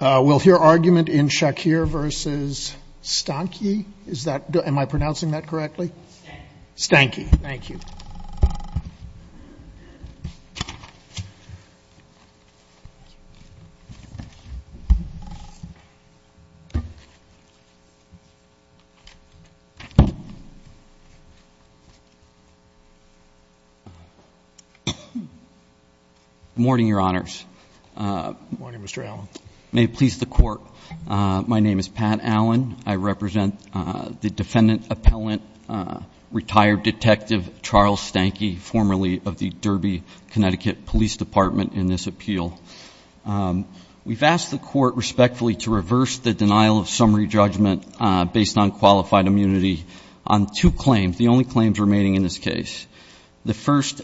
We'll hear argument in Shakir v. Stanky, is that, am I pronouncing that correctly? Stanky. Thank you. Good morning, your honors. Good morning, Mr. Allen. May it please the court, my name is Pat Allen. I represent the defendant-appellant retired detective Charles Stanky, formerly of the Derby, Connecticut, Police Department, in this appeal. We've asked the court respectfully to reverse the denial of summary judgment based on qualified immunity on two claims, the only claims remaining in this case. The first,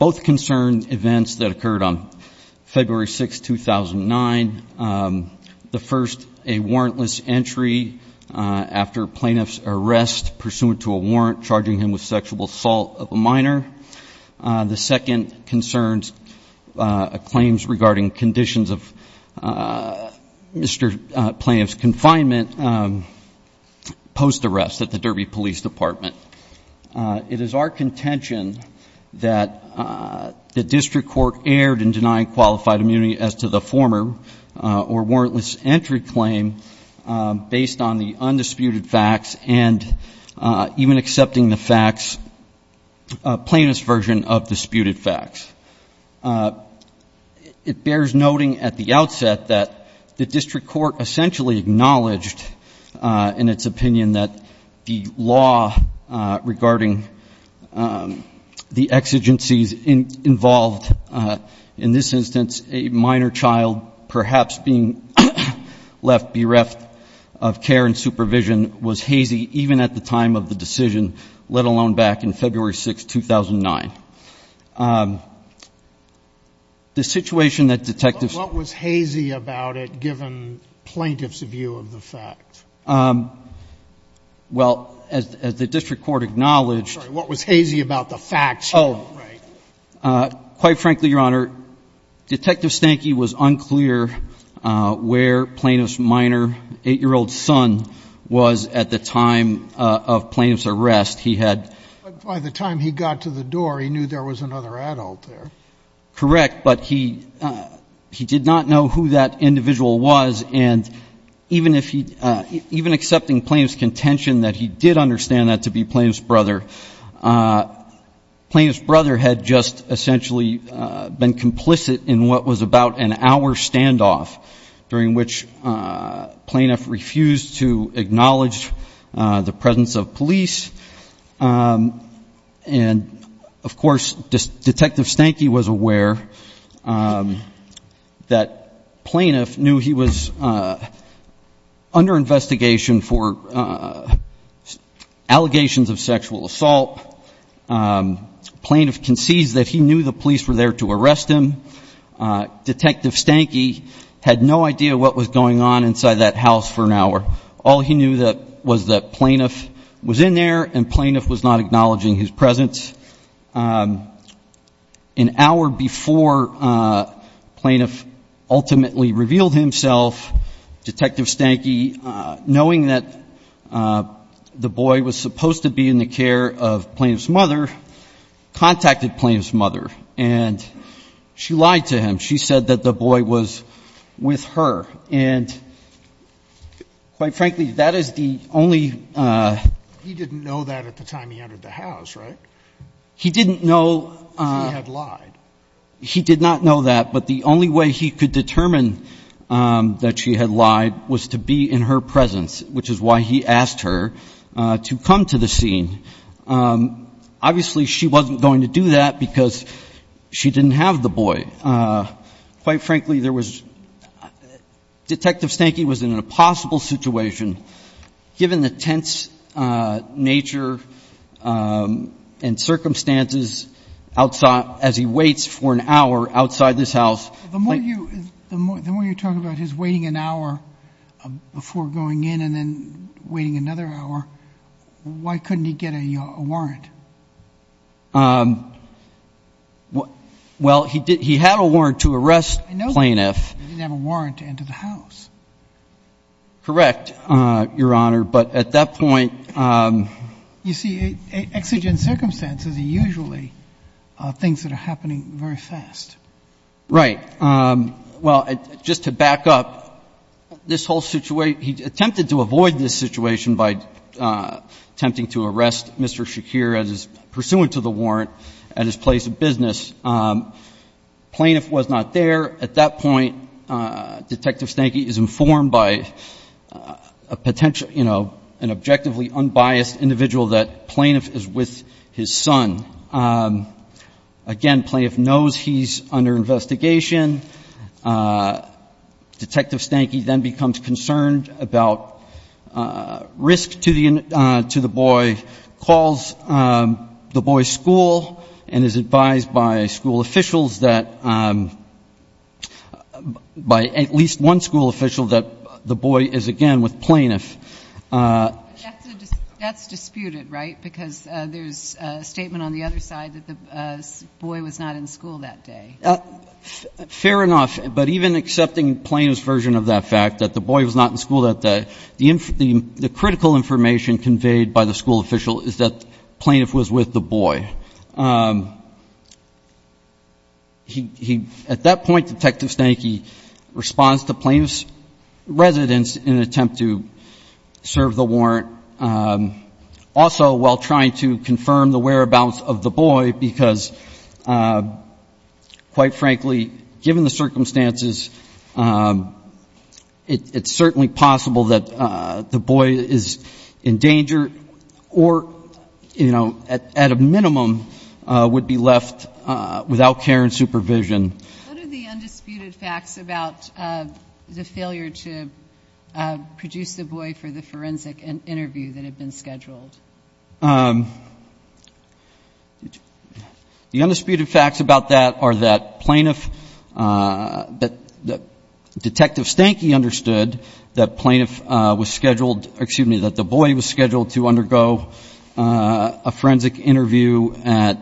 both concern events that occurred on February 6, 2009. The first, a warrantless entry after plaintiff's arrest pursuant to a warrant charging him with sexual assault of a minor. The second concerns claims regarding conditions of Mr. Plaintiff's confinement post-arrest at the Derby Police Department. It is our contention that the district court erred in denying qualified immunity as to the former or warrantless entry claim based on the undisputed facts and even accepting the facts, plaintiff's version of disputed facts. It bears noting at the outset that the district court essentially acknowledged in its opinion that the law regarding the exigencies involved in this instance, a minor child perhaps being left bereft of care and supervision was hazy even at the time of the decision, let alone back in February 6, 2009. The situation that detectives were concerned about was the fact that the plaintiff's son was at the time of plaintiff's arrest. But what was hazy about it, given plaintiff's view of the fact? Well, as the district court acknowledged What was hazy about the facts? Quite frankly, Your Honor, Detective Stanky was unclear where plaintiff's minor 8-year-old son was at the time of plaintiff's arrest. He had By the time he got to the door, he knew there was another adult there. Correct. But he did not know who that individual was. And even if he even accepting plaintiff's contention that he did understand that to be plaintiff's brother, plaintiff's brother had just essentially been complicit in what was about an hour standoff during which plaintiff refused to acknowledge the presence of police. And, of course, Detective Stanky was aware that plaintiff knew he was under investigation for allegations of sexual assault. Plaintiff concedes that he knew the police were there to arrest him. Detective Stanky had no idea what was going on inside that house for an hour. All he knew was that plaintiff was in there and plaintiff was not acknowledging his presence. An hour before plaintiff ultimately revealed himself, Detective Stanky, knowing that the boy was supposed to be in the care of plaintiff's mother, contacted plaintiff's mother and she lied to him. She said that the boy was with her. And, quite frankly, that is the only He didn't know that at the time he entered the house, right? He didn't know He had lied. He did not know that. But the only way he could determine that she had lied was to be in her presence, which is why he asked her to come to the scene. Obviously, she wasn't going to do that because she didn't have the boy. Quite frankly, there was, Detective Stanky was in an impossible situation given the tense nature and circumstances outside, as he waits for an hour outside this house. The more you talk about his waiting an hour before going in and then waiting another hour, why couldn't he get a warrant? Well, he had a warrant to arrest plaintiff. He didn't have a warrant to enter the house. Correct, Your Honor, but at that point You see, exigent circumstances are usually things that are happening very fast. Right. Well, just to back up, this whole situation, he attempted to avoid this situation by attempting to arrest Mr. Shakir as pursuant to the warrant at his place of business. Plaintiff was not there. At that point, Detective Stanky is informed by a potential, you know, an objectively unbiased individual that plaintiff is with his son. Again, plaintiff knows he's under investigation. Detective Stanky then becomes concerned about risk to the boy, calls the boy's school and is advised by school officials that by at least one school official that the boy is again with plaintiff. That's disputed, right? Because there's a statement on the other side that the boy was not in school that day. Fair enough, but even accepting plaintiff's version of that fact that the boy was not in school that day, the critical information conveyed by the school official is that plaintiff was with the boy. At that point, Detective Stanky responds to plaintiff's residence in an attempt to serve the warrant. Also, while trying to confirm the whereabouts of the boy, because quite frankly, given the circumstances, it's certainly possible that the boy is in danger or, you know, at a minimum would be left without care and supervision. What are the undisputed facts about the failure to produce the boy for the forensic interview? That had been scheduled? The undisputed facts about that are that plaintiff, that Detective Stanky understood that plaintiff was scheduled, excuse me, that the boy was scheduled to undergo a forensic interview at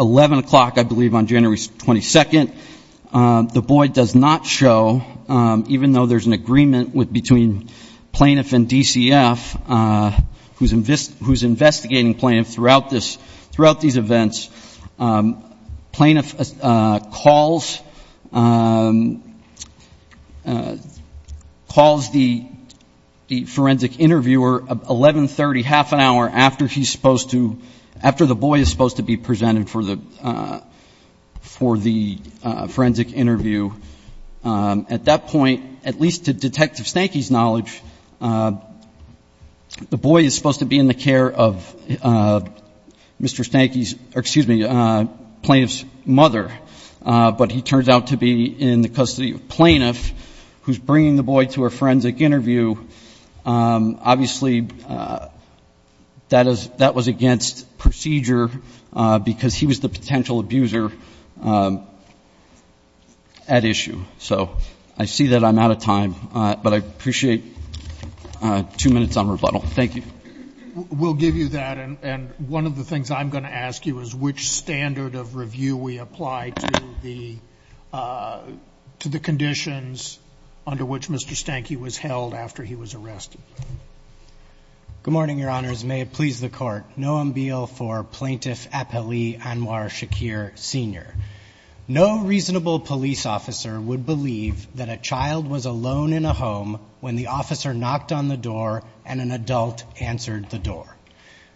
11 o'clock, I believe, on January 22nd. The boy does not show, even though there's an agreement between plaintiff and DCF, who's investigating plaintiff throughout these events. Plaintiff calls the forensic interviewer at 11.30, half an hour after he's supposed to, after the boy is supposed to be presented for the forensic interview. At that point, at least to Detective Stanky's knowledge, the boy is supposed to be in the care of Mr. Stanky's, or excuse me, plaintiff's mother. But he turns out to be in the custody of plaintiff, who's bringing the boy to a forensic interview. Obviously, that was against procedure, because he was the potential abuser at issue. So I see that I'm out of time, but I appreciate two minutes on rebuttal. Thank you. We'll give you that, and one of the things I'm going to ask you is which standard of review we apply to the conditions under which Mr. Stanky was held after he was arrested. Good morning, Your Honors. May it please the Court. Noam Beale for Plaintiff Appellee Anwar Shakir Sr. No reasonable police officer would believe that a child was alone in a home when the officer knocked on the door and an adult answered the door.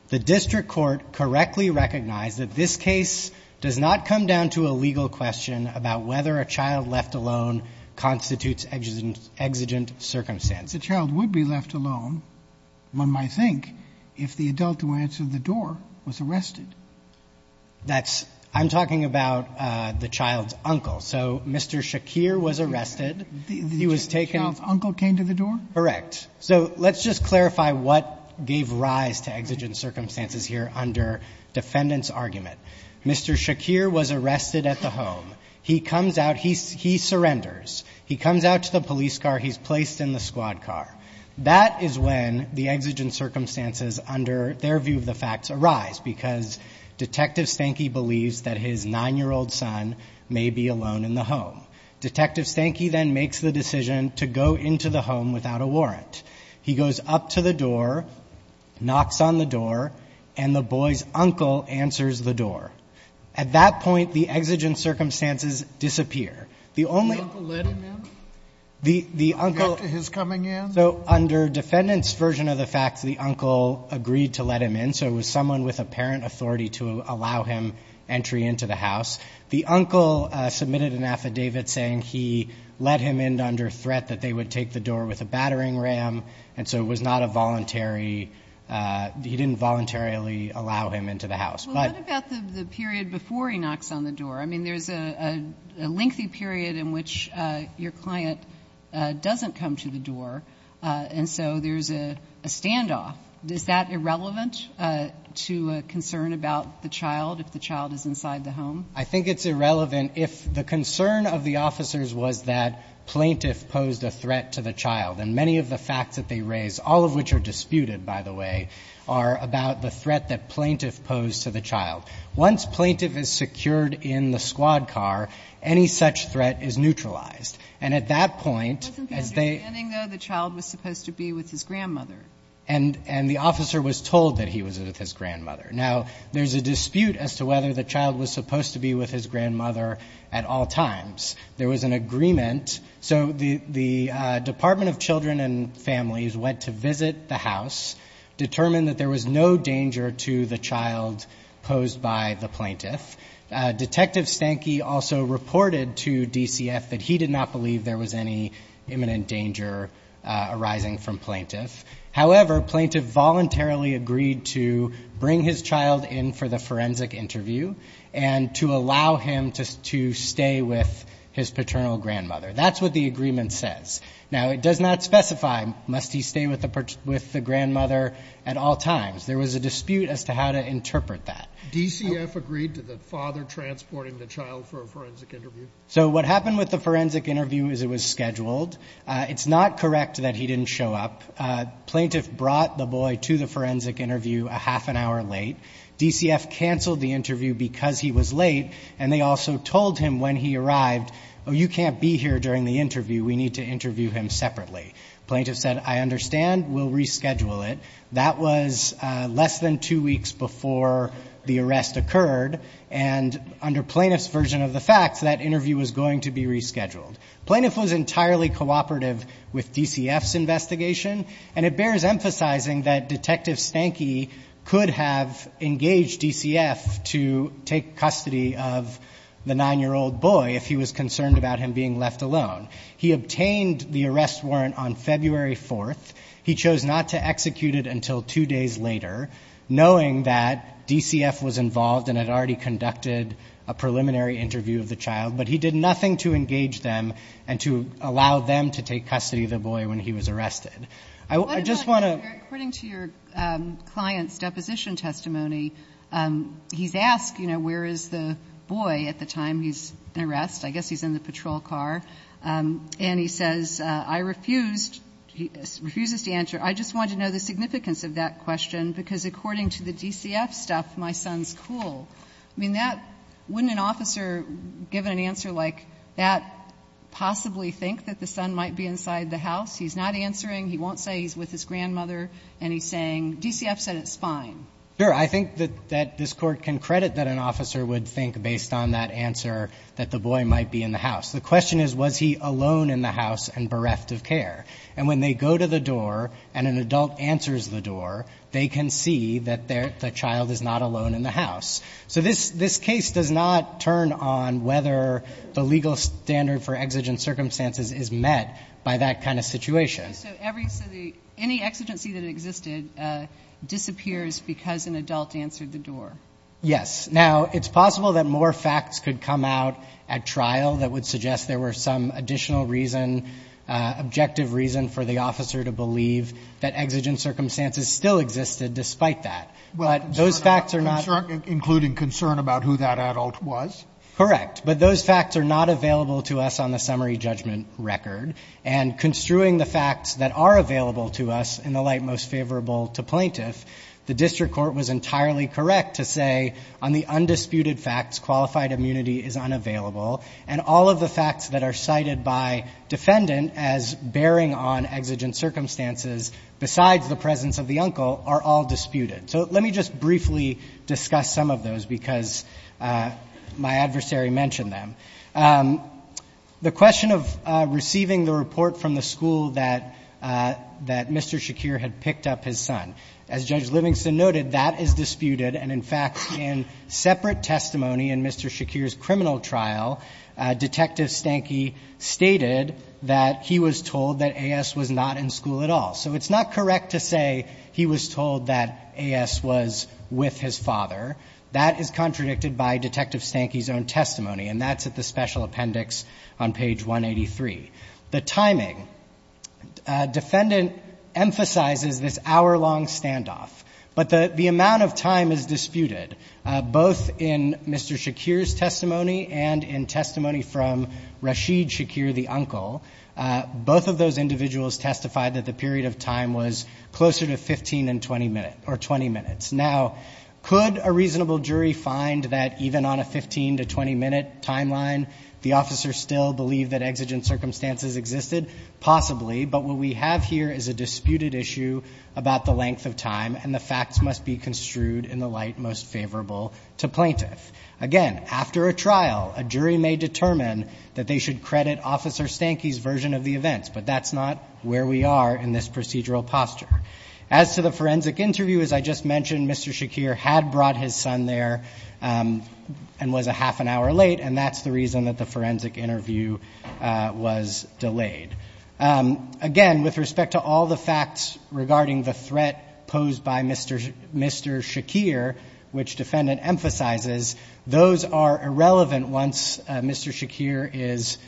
The district court correctly recognized that this case does not come down to a legal question about whether a child left alone constitutes exigent circumstance. If a child would be left alone, one might think, if the adult who answered the door was arrested. I'm talking about the child's uncle. So Mr. Shakir was arrested. The child's uncle came to the door? Correct. So let's just clarify what gave rise to exigent circumstances here under defendant's argument. Mr. Shakir was arrested at the home. He comes out. He surrenders. He comes out to the police car. He's placed in the squad car. That is when the exigent circumstances under their view of the facts arise, because Detective Stanky believes that his 9-year-old son may be alone in the home. Detective Stanky then makes the decision to go into the home without a warrant. He goes up to the door, knocks on the door, and the boy's uncle answers the door. At that point, the exigent circumstances disappear. The uncle let him in? The uncle submitted an affidavit saying he let him in under threat that they would take the door with a battering ram, and so it was not a voluntary he didn't voluntarily allow him into the house. What about the period before he knocks on the door? I mean, there's a lengthy period in which your client doesn't come to the door, and so there's a standoff. Is that irrelevant to a concern about the child, if the child is inside the home? I think it's irrelevant if the concern of the officers was that plaintiff posed a threat to the child, and many of the facts that they raise, all of which are disputed, by the way, are about the threat that plaintiff posed to the child. Once plaintiff is secured in the squad car, any such threat is neutralized. And at that point, as they — Wasn't there a understanding, though, the child was supposed to be with his grandmother? And the officer was told that he was with his grandmother. Now, there's a dispute as to whether the child was supposed to be with his grandmother at all times. There was an agreement. So the Department of Children and Families went to visit the house, determined that there was no danger to the child posed by the plaintiff. Detective Stanky also reported to DCF that he did not believe there was any imminent danger arising from plaintiff. However, plaintiff voluntarily agreed to bring his child in for the forensic interview and to allow him to stay with his paternal grandmother. That's what the agreement says. Now, it does not specify, must he stay with the grandmother at all times. There was a dispute as to how to interpret that. DCF agreed to the father transporting the child for a forensic interview? So what happened with the forensic interview is it was scheduled. It's not correct that he didn't show up. Plaintiff brought the boy to the forensic interview a half an hour late. DCF canceled the interview because he was late, and they also told him when he would need to interview him separately. Plaintiff said, I understand. We'll reschedule it. That was less than two weeks before the arrest occurred, and under plaintiff's version of the facts, that interview was going to be rescheduled. Plaintiff was entirely cooperative with DCF's investigation, and it bears emphasizing that Detective Stanky could have engaged DCF to take custody of the nine-year-old boy if he was concerned about him being left alone. He obtained the arrest warrant on February 4th. He chose not to execute it until two days later, knowing that DCF was involved and had already conducted a preliminary interview of the child, but he did nothing to engage them and to allow them to take custody of the boy when he was arrested. I just want to... According to your client's deposition testimony, he's asked, you know, where is the boy at the time he's in arrest? I guess he's in the patrol car. And he says, I refused. He refuses to answer. I just want to know the significance of that question, because according to the DCF stuff, my son's cool. I mean, that, wouldn't an officer give an answer like that possibly think that the son might be inside the house? He's not answering. He won't say he's with his grandmother. And he's saying, DCF said it's fine. Sure. I think that this Court can credit that an officer would think, based on that answer, that the boy might be in the house. The question is, was he alone in the house and bereft of care? And when they go to the door and an adult answers the door, they can see that the child is not alone in the house. So this case does not turn on whether the legal standard for exigent circumstances is met by that kind of situation. So any exigency that existed disappears because an adult answered the door? Yes. Now, it's possible that more facts could come out at trial that would suggest there were some additional reason, objective reason, for the officer to believe that exigent circumstances still existed despite that. But those facts are not Concern, including concern about who that adult was? Correct. But those facts are not available to us on the summary judgment record. And construing the facts that are available to us in the light most favorable to plaintiff, the District Court was entirely correct to say, on the undisputed facts, qualified immunity is unavailable. And all of the facts that are cited by defendant as bearing on exigent circumstances besides the presence of the uncle are all disputed. So let me just briefly discuss some of those because my adversary mentioned them. The question of receiving the report from the school that Mr. Shakir had picked up his son, as Judge Livingston noted, that is disputed. And, in fact, in separate testimony in Mr. Shakir's criminal trial, Detective Stanky stated that he was told that A.S. was not in school at all. So it's not correct to say he was told that A.S. was with his father. That is contradicted by Detective Stanky's own testimony. And that's at the special appendix on page 183. The timing. Defendant emphasizes this hour-long standoff. But the amount of time is disputed, both in Mr. Shakir's testimony and in testimony from Rashid Shakir, the uncle. Both of those individuals testified that the period of time was closer to 15 and 20 minutes. Now, could a reasonable jury find that even on a 15 to 20-minute timeline, the officer still believed that exigent circumstances existed? Possibly. But what we have here is a disputed issue about the length of time. And the facts must be construed in the light most favorable to plaintiff. Again, after a trial, a jury may determine that they should credit Officer Stanky's version of the events. But that's not where we are in this procedural posture. As to the forensic interview, as I just mentioned, Mr. Shakir had brought his son there and was a half an hour late. And that's the reason that the forensic interview was delayed. Again, with respect to all the facts regarding the threat posed by Mr. Shakir, which defendant emphasizes, those are irrelevant once Mr. Shakir is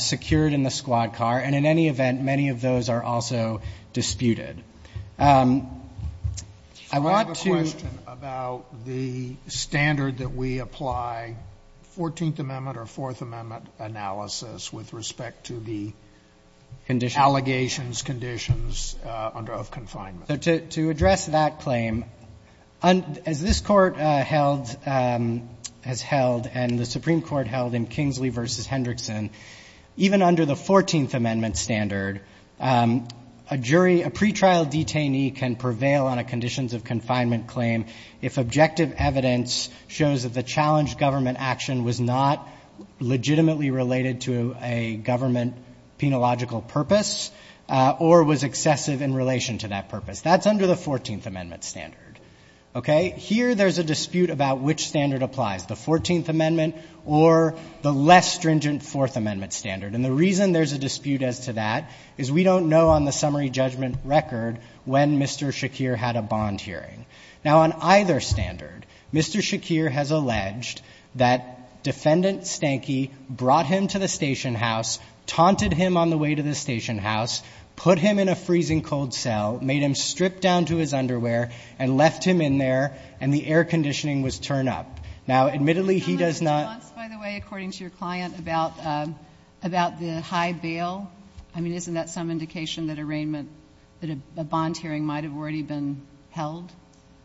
secured in the squad car. And in any event, many of those are also disputed. So I have a question about the standard that we apply, 14th Amendment or 4th Amendment analysis, with respect to the allegations, conditions of confinement. To address that claim, as this Court has held and the Supreme Court held in Kingsley v. Hendrickson, even under the 14th Amendment standard, a jury, a pretrial detainee can prevail on a conditions of confinement claim if objective evidence shows that the challenged government action was not legitimately related to a government penological purpose or was excessive in relation to that purpose. That's under the 14th Amendment standard. Okay? Here there's a dispute about which standard applies, the 14th Amendment or the less stringent 4th Amendment standard. And the reason there's a dispute as to that is we don't know on the summary judgment record when Mr. Shakir had a bond hearing. Now, on either standard, Mr. Shakir has alleged that Defendant Stanky brought him to the station house, taunted him on the way to the station house, put him in a freezing cold cell, made him strip down to his underwear, and left him in there, and the air conditioning was turned up. Now, admittedly, he does not ---- By the way, according to your client, about the high bail, I mean, isn't that some indication that arraignment, that a bond hearing might have already been held?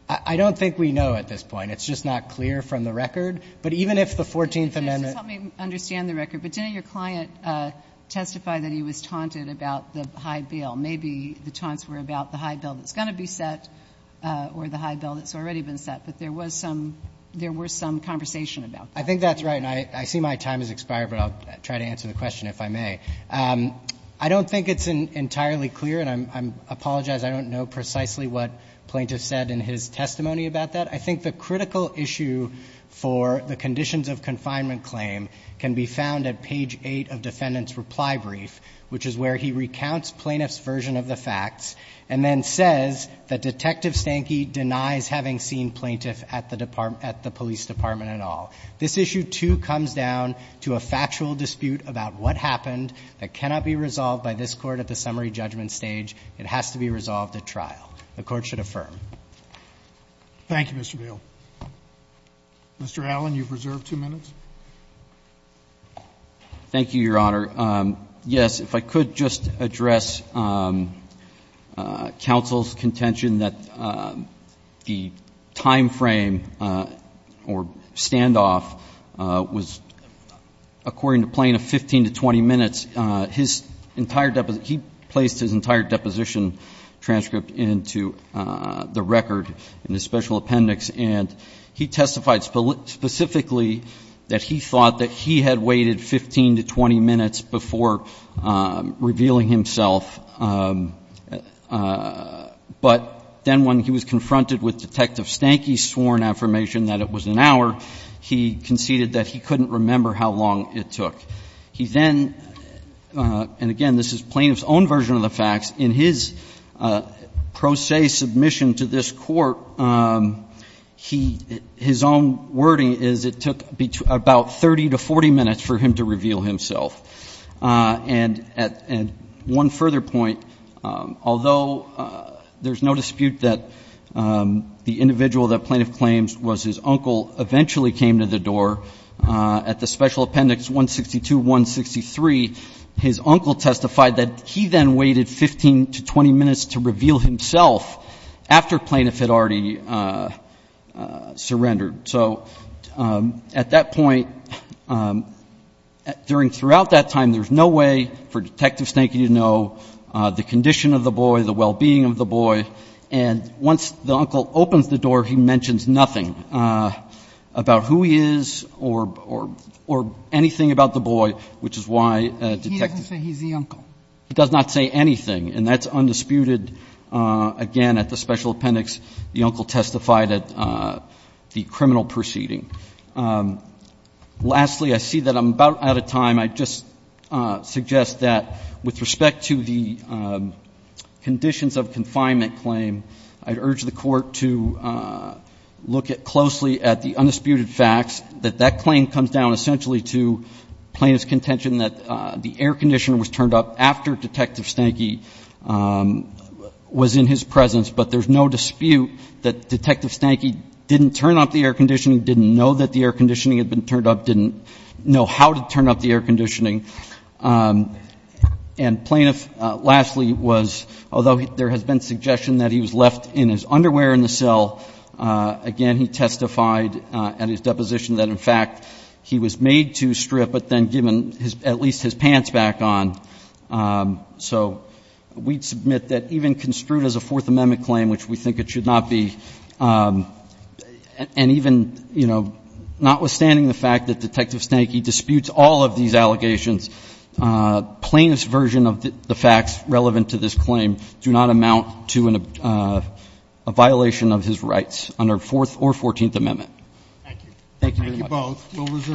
I don't think we know at this point. It's just not clear from the record. But even if the 14th Amendment ---- Just help me understand the record. But didn't your client testify that he was taunted about the high bail? Maybe the taunts were about the high bail that's going to be set or the high bail that's already been set. But there was some ---- there was some conversation about that. I think that's right. And I see my time has expired, but I'll try to answer the question if I may. I don't think it's entirely clear, and I apologize, I don't know precisely what Plaintiff said in his testimony about that. I think the critical issue for the conditions of confinement claim can be found at page 8 of Defendant's reply brief, which is where he recounts Plaintiff's version of the facts and then says that Detective Stankey denies having seen Plaintiff at the police department at all. This issue, too, comes down to a factual dispute about what happened that cannot be resolved by this Court at the summary judgment stage. It has to be resolved at trial. The Court should affirm. Thank you, Mr. Beall. Mr. Allen, you've reserved two minutes. Thank you, Your Honor. Yes, if I could just address counsel's contention that the time frame or standoff was, according to Plaintiff, 15 to 20 minutes. His entire deposit ---- he placed his entire deposition transcript into the record in the special appendix, and he testified specifically that he thought that he had waited 15 to 20 minutes before revealing himself. But then when he was confronted with Detective Stankey's sworn affirmation that it was an hour, he conceded that he couldn't remember how long it took. He then ---- and, again, this is Plaintiff's own version of the facts. In his pro se submission to this Court, he ---- his own wording is it took about 30 to 40 minutes for him to reveal himself. And one further point, although there's no dispute that the individual that Plaintiff claims was his uncle eventually came to the door at the special appendix 162-163, his uncle testified that he then waited 15 to 20 minutes to reveal himself after Plaintiff had already surrendered. So at that point, during ---- throughout that time, there's no way for Detective Stankey to know the condition of the boy, the well-being of the boy. And once the uncle opens the door, he mentions nothing about who he is or anything about the boy, which is why Detective ---- He doesn't say he's the uncle. He does not say anything. And that's undisputed. Again, at the special appendix, the uncle testified at the criminal proceeding. Lastly, I see that I'm about out of time. I'd just suggest that with respect to the conditions of confinement claim, I'd urge the Court to look closely at the undisputed facts, that that claim comes down essentially to Plaintiff's contention that the air conditioner was turned up after Detective Stankey was in his presence. But there's no dispute that Detective Stankey didn't turn up the air conditioner, didn't know that the air conditioner had been turned up, didn't know how to turn up the air conditioner. And Plaintiff, lastly, was, although there has been suggestion that he was left in his underwear in the cell, again, he testified at his deposition that, in fact, he was made to strip but then given at least his pants back on. So we'd submit that even construed as a Fourth Amendment claim, which we think it should not be, and even, you know, notwithstanding the fact that Detective Stankey disputes all of these allegations, Plaintiff's version of the facts relevant to this claim do not amount to a violation of his rights under Fourth or Fourteenth Amendment. Thank you. Thank you both.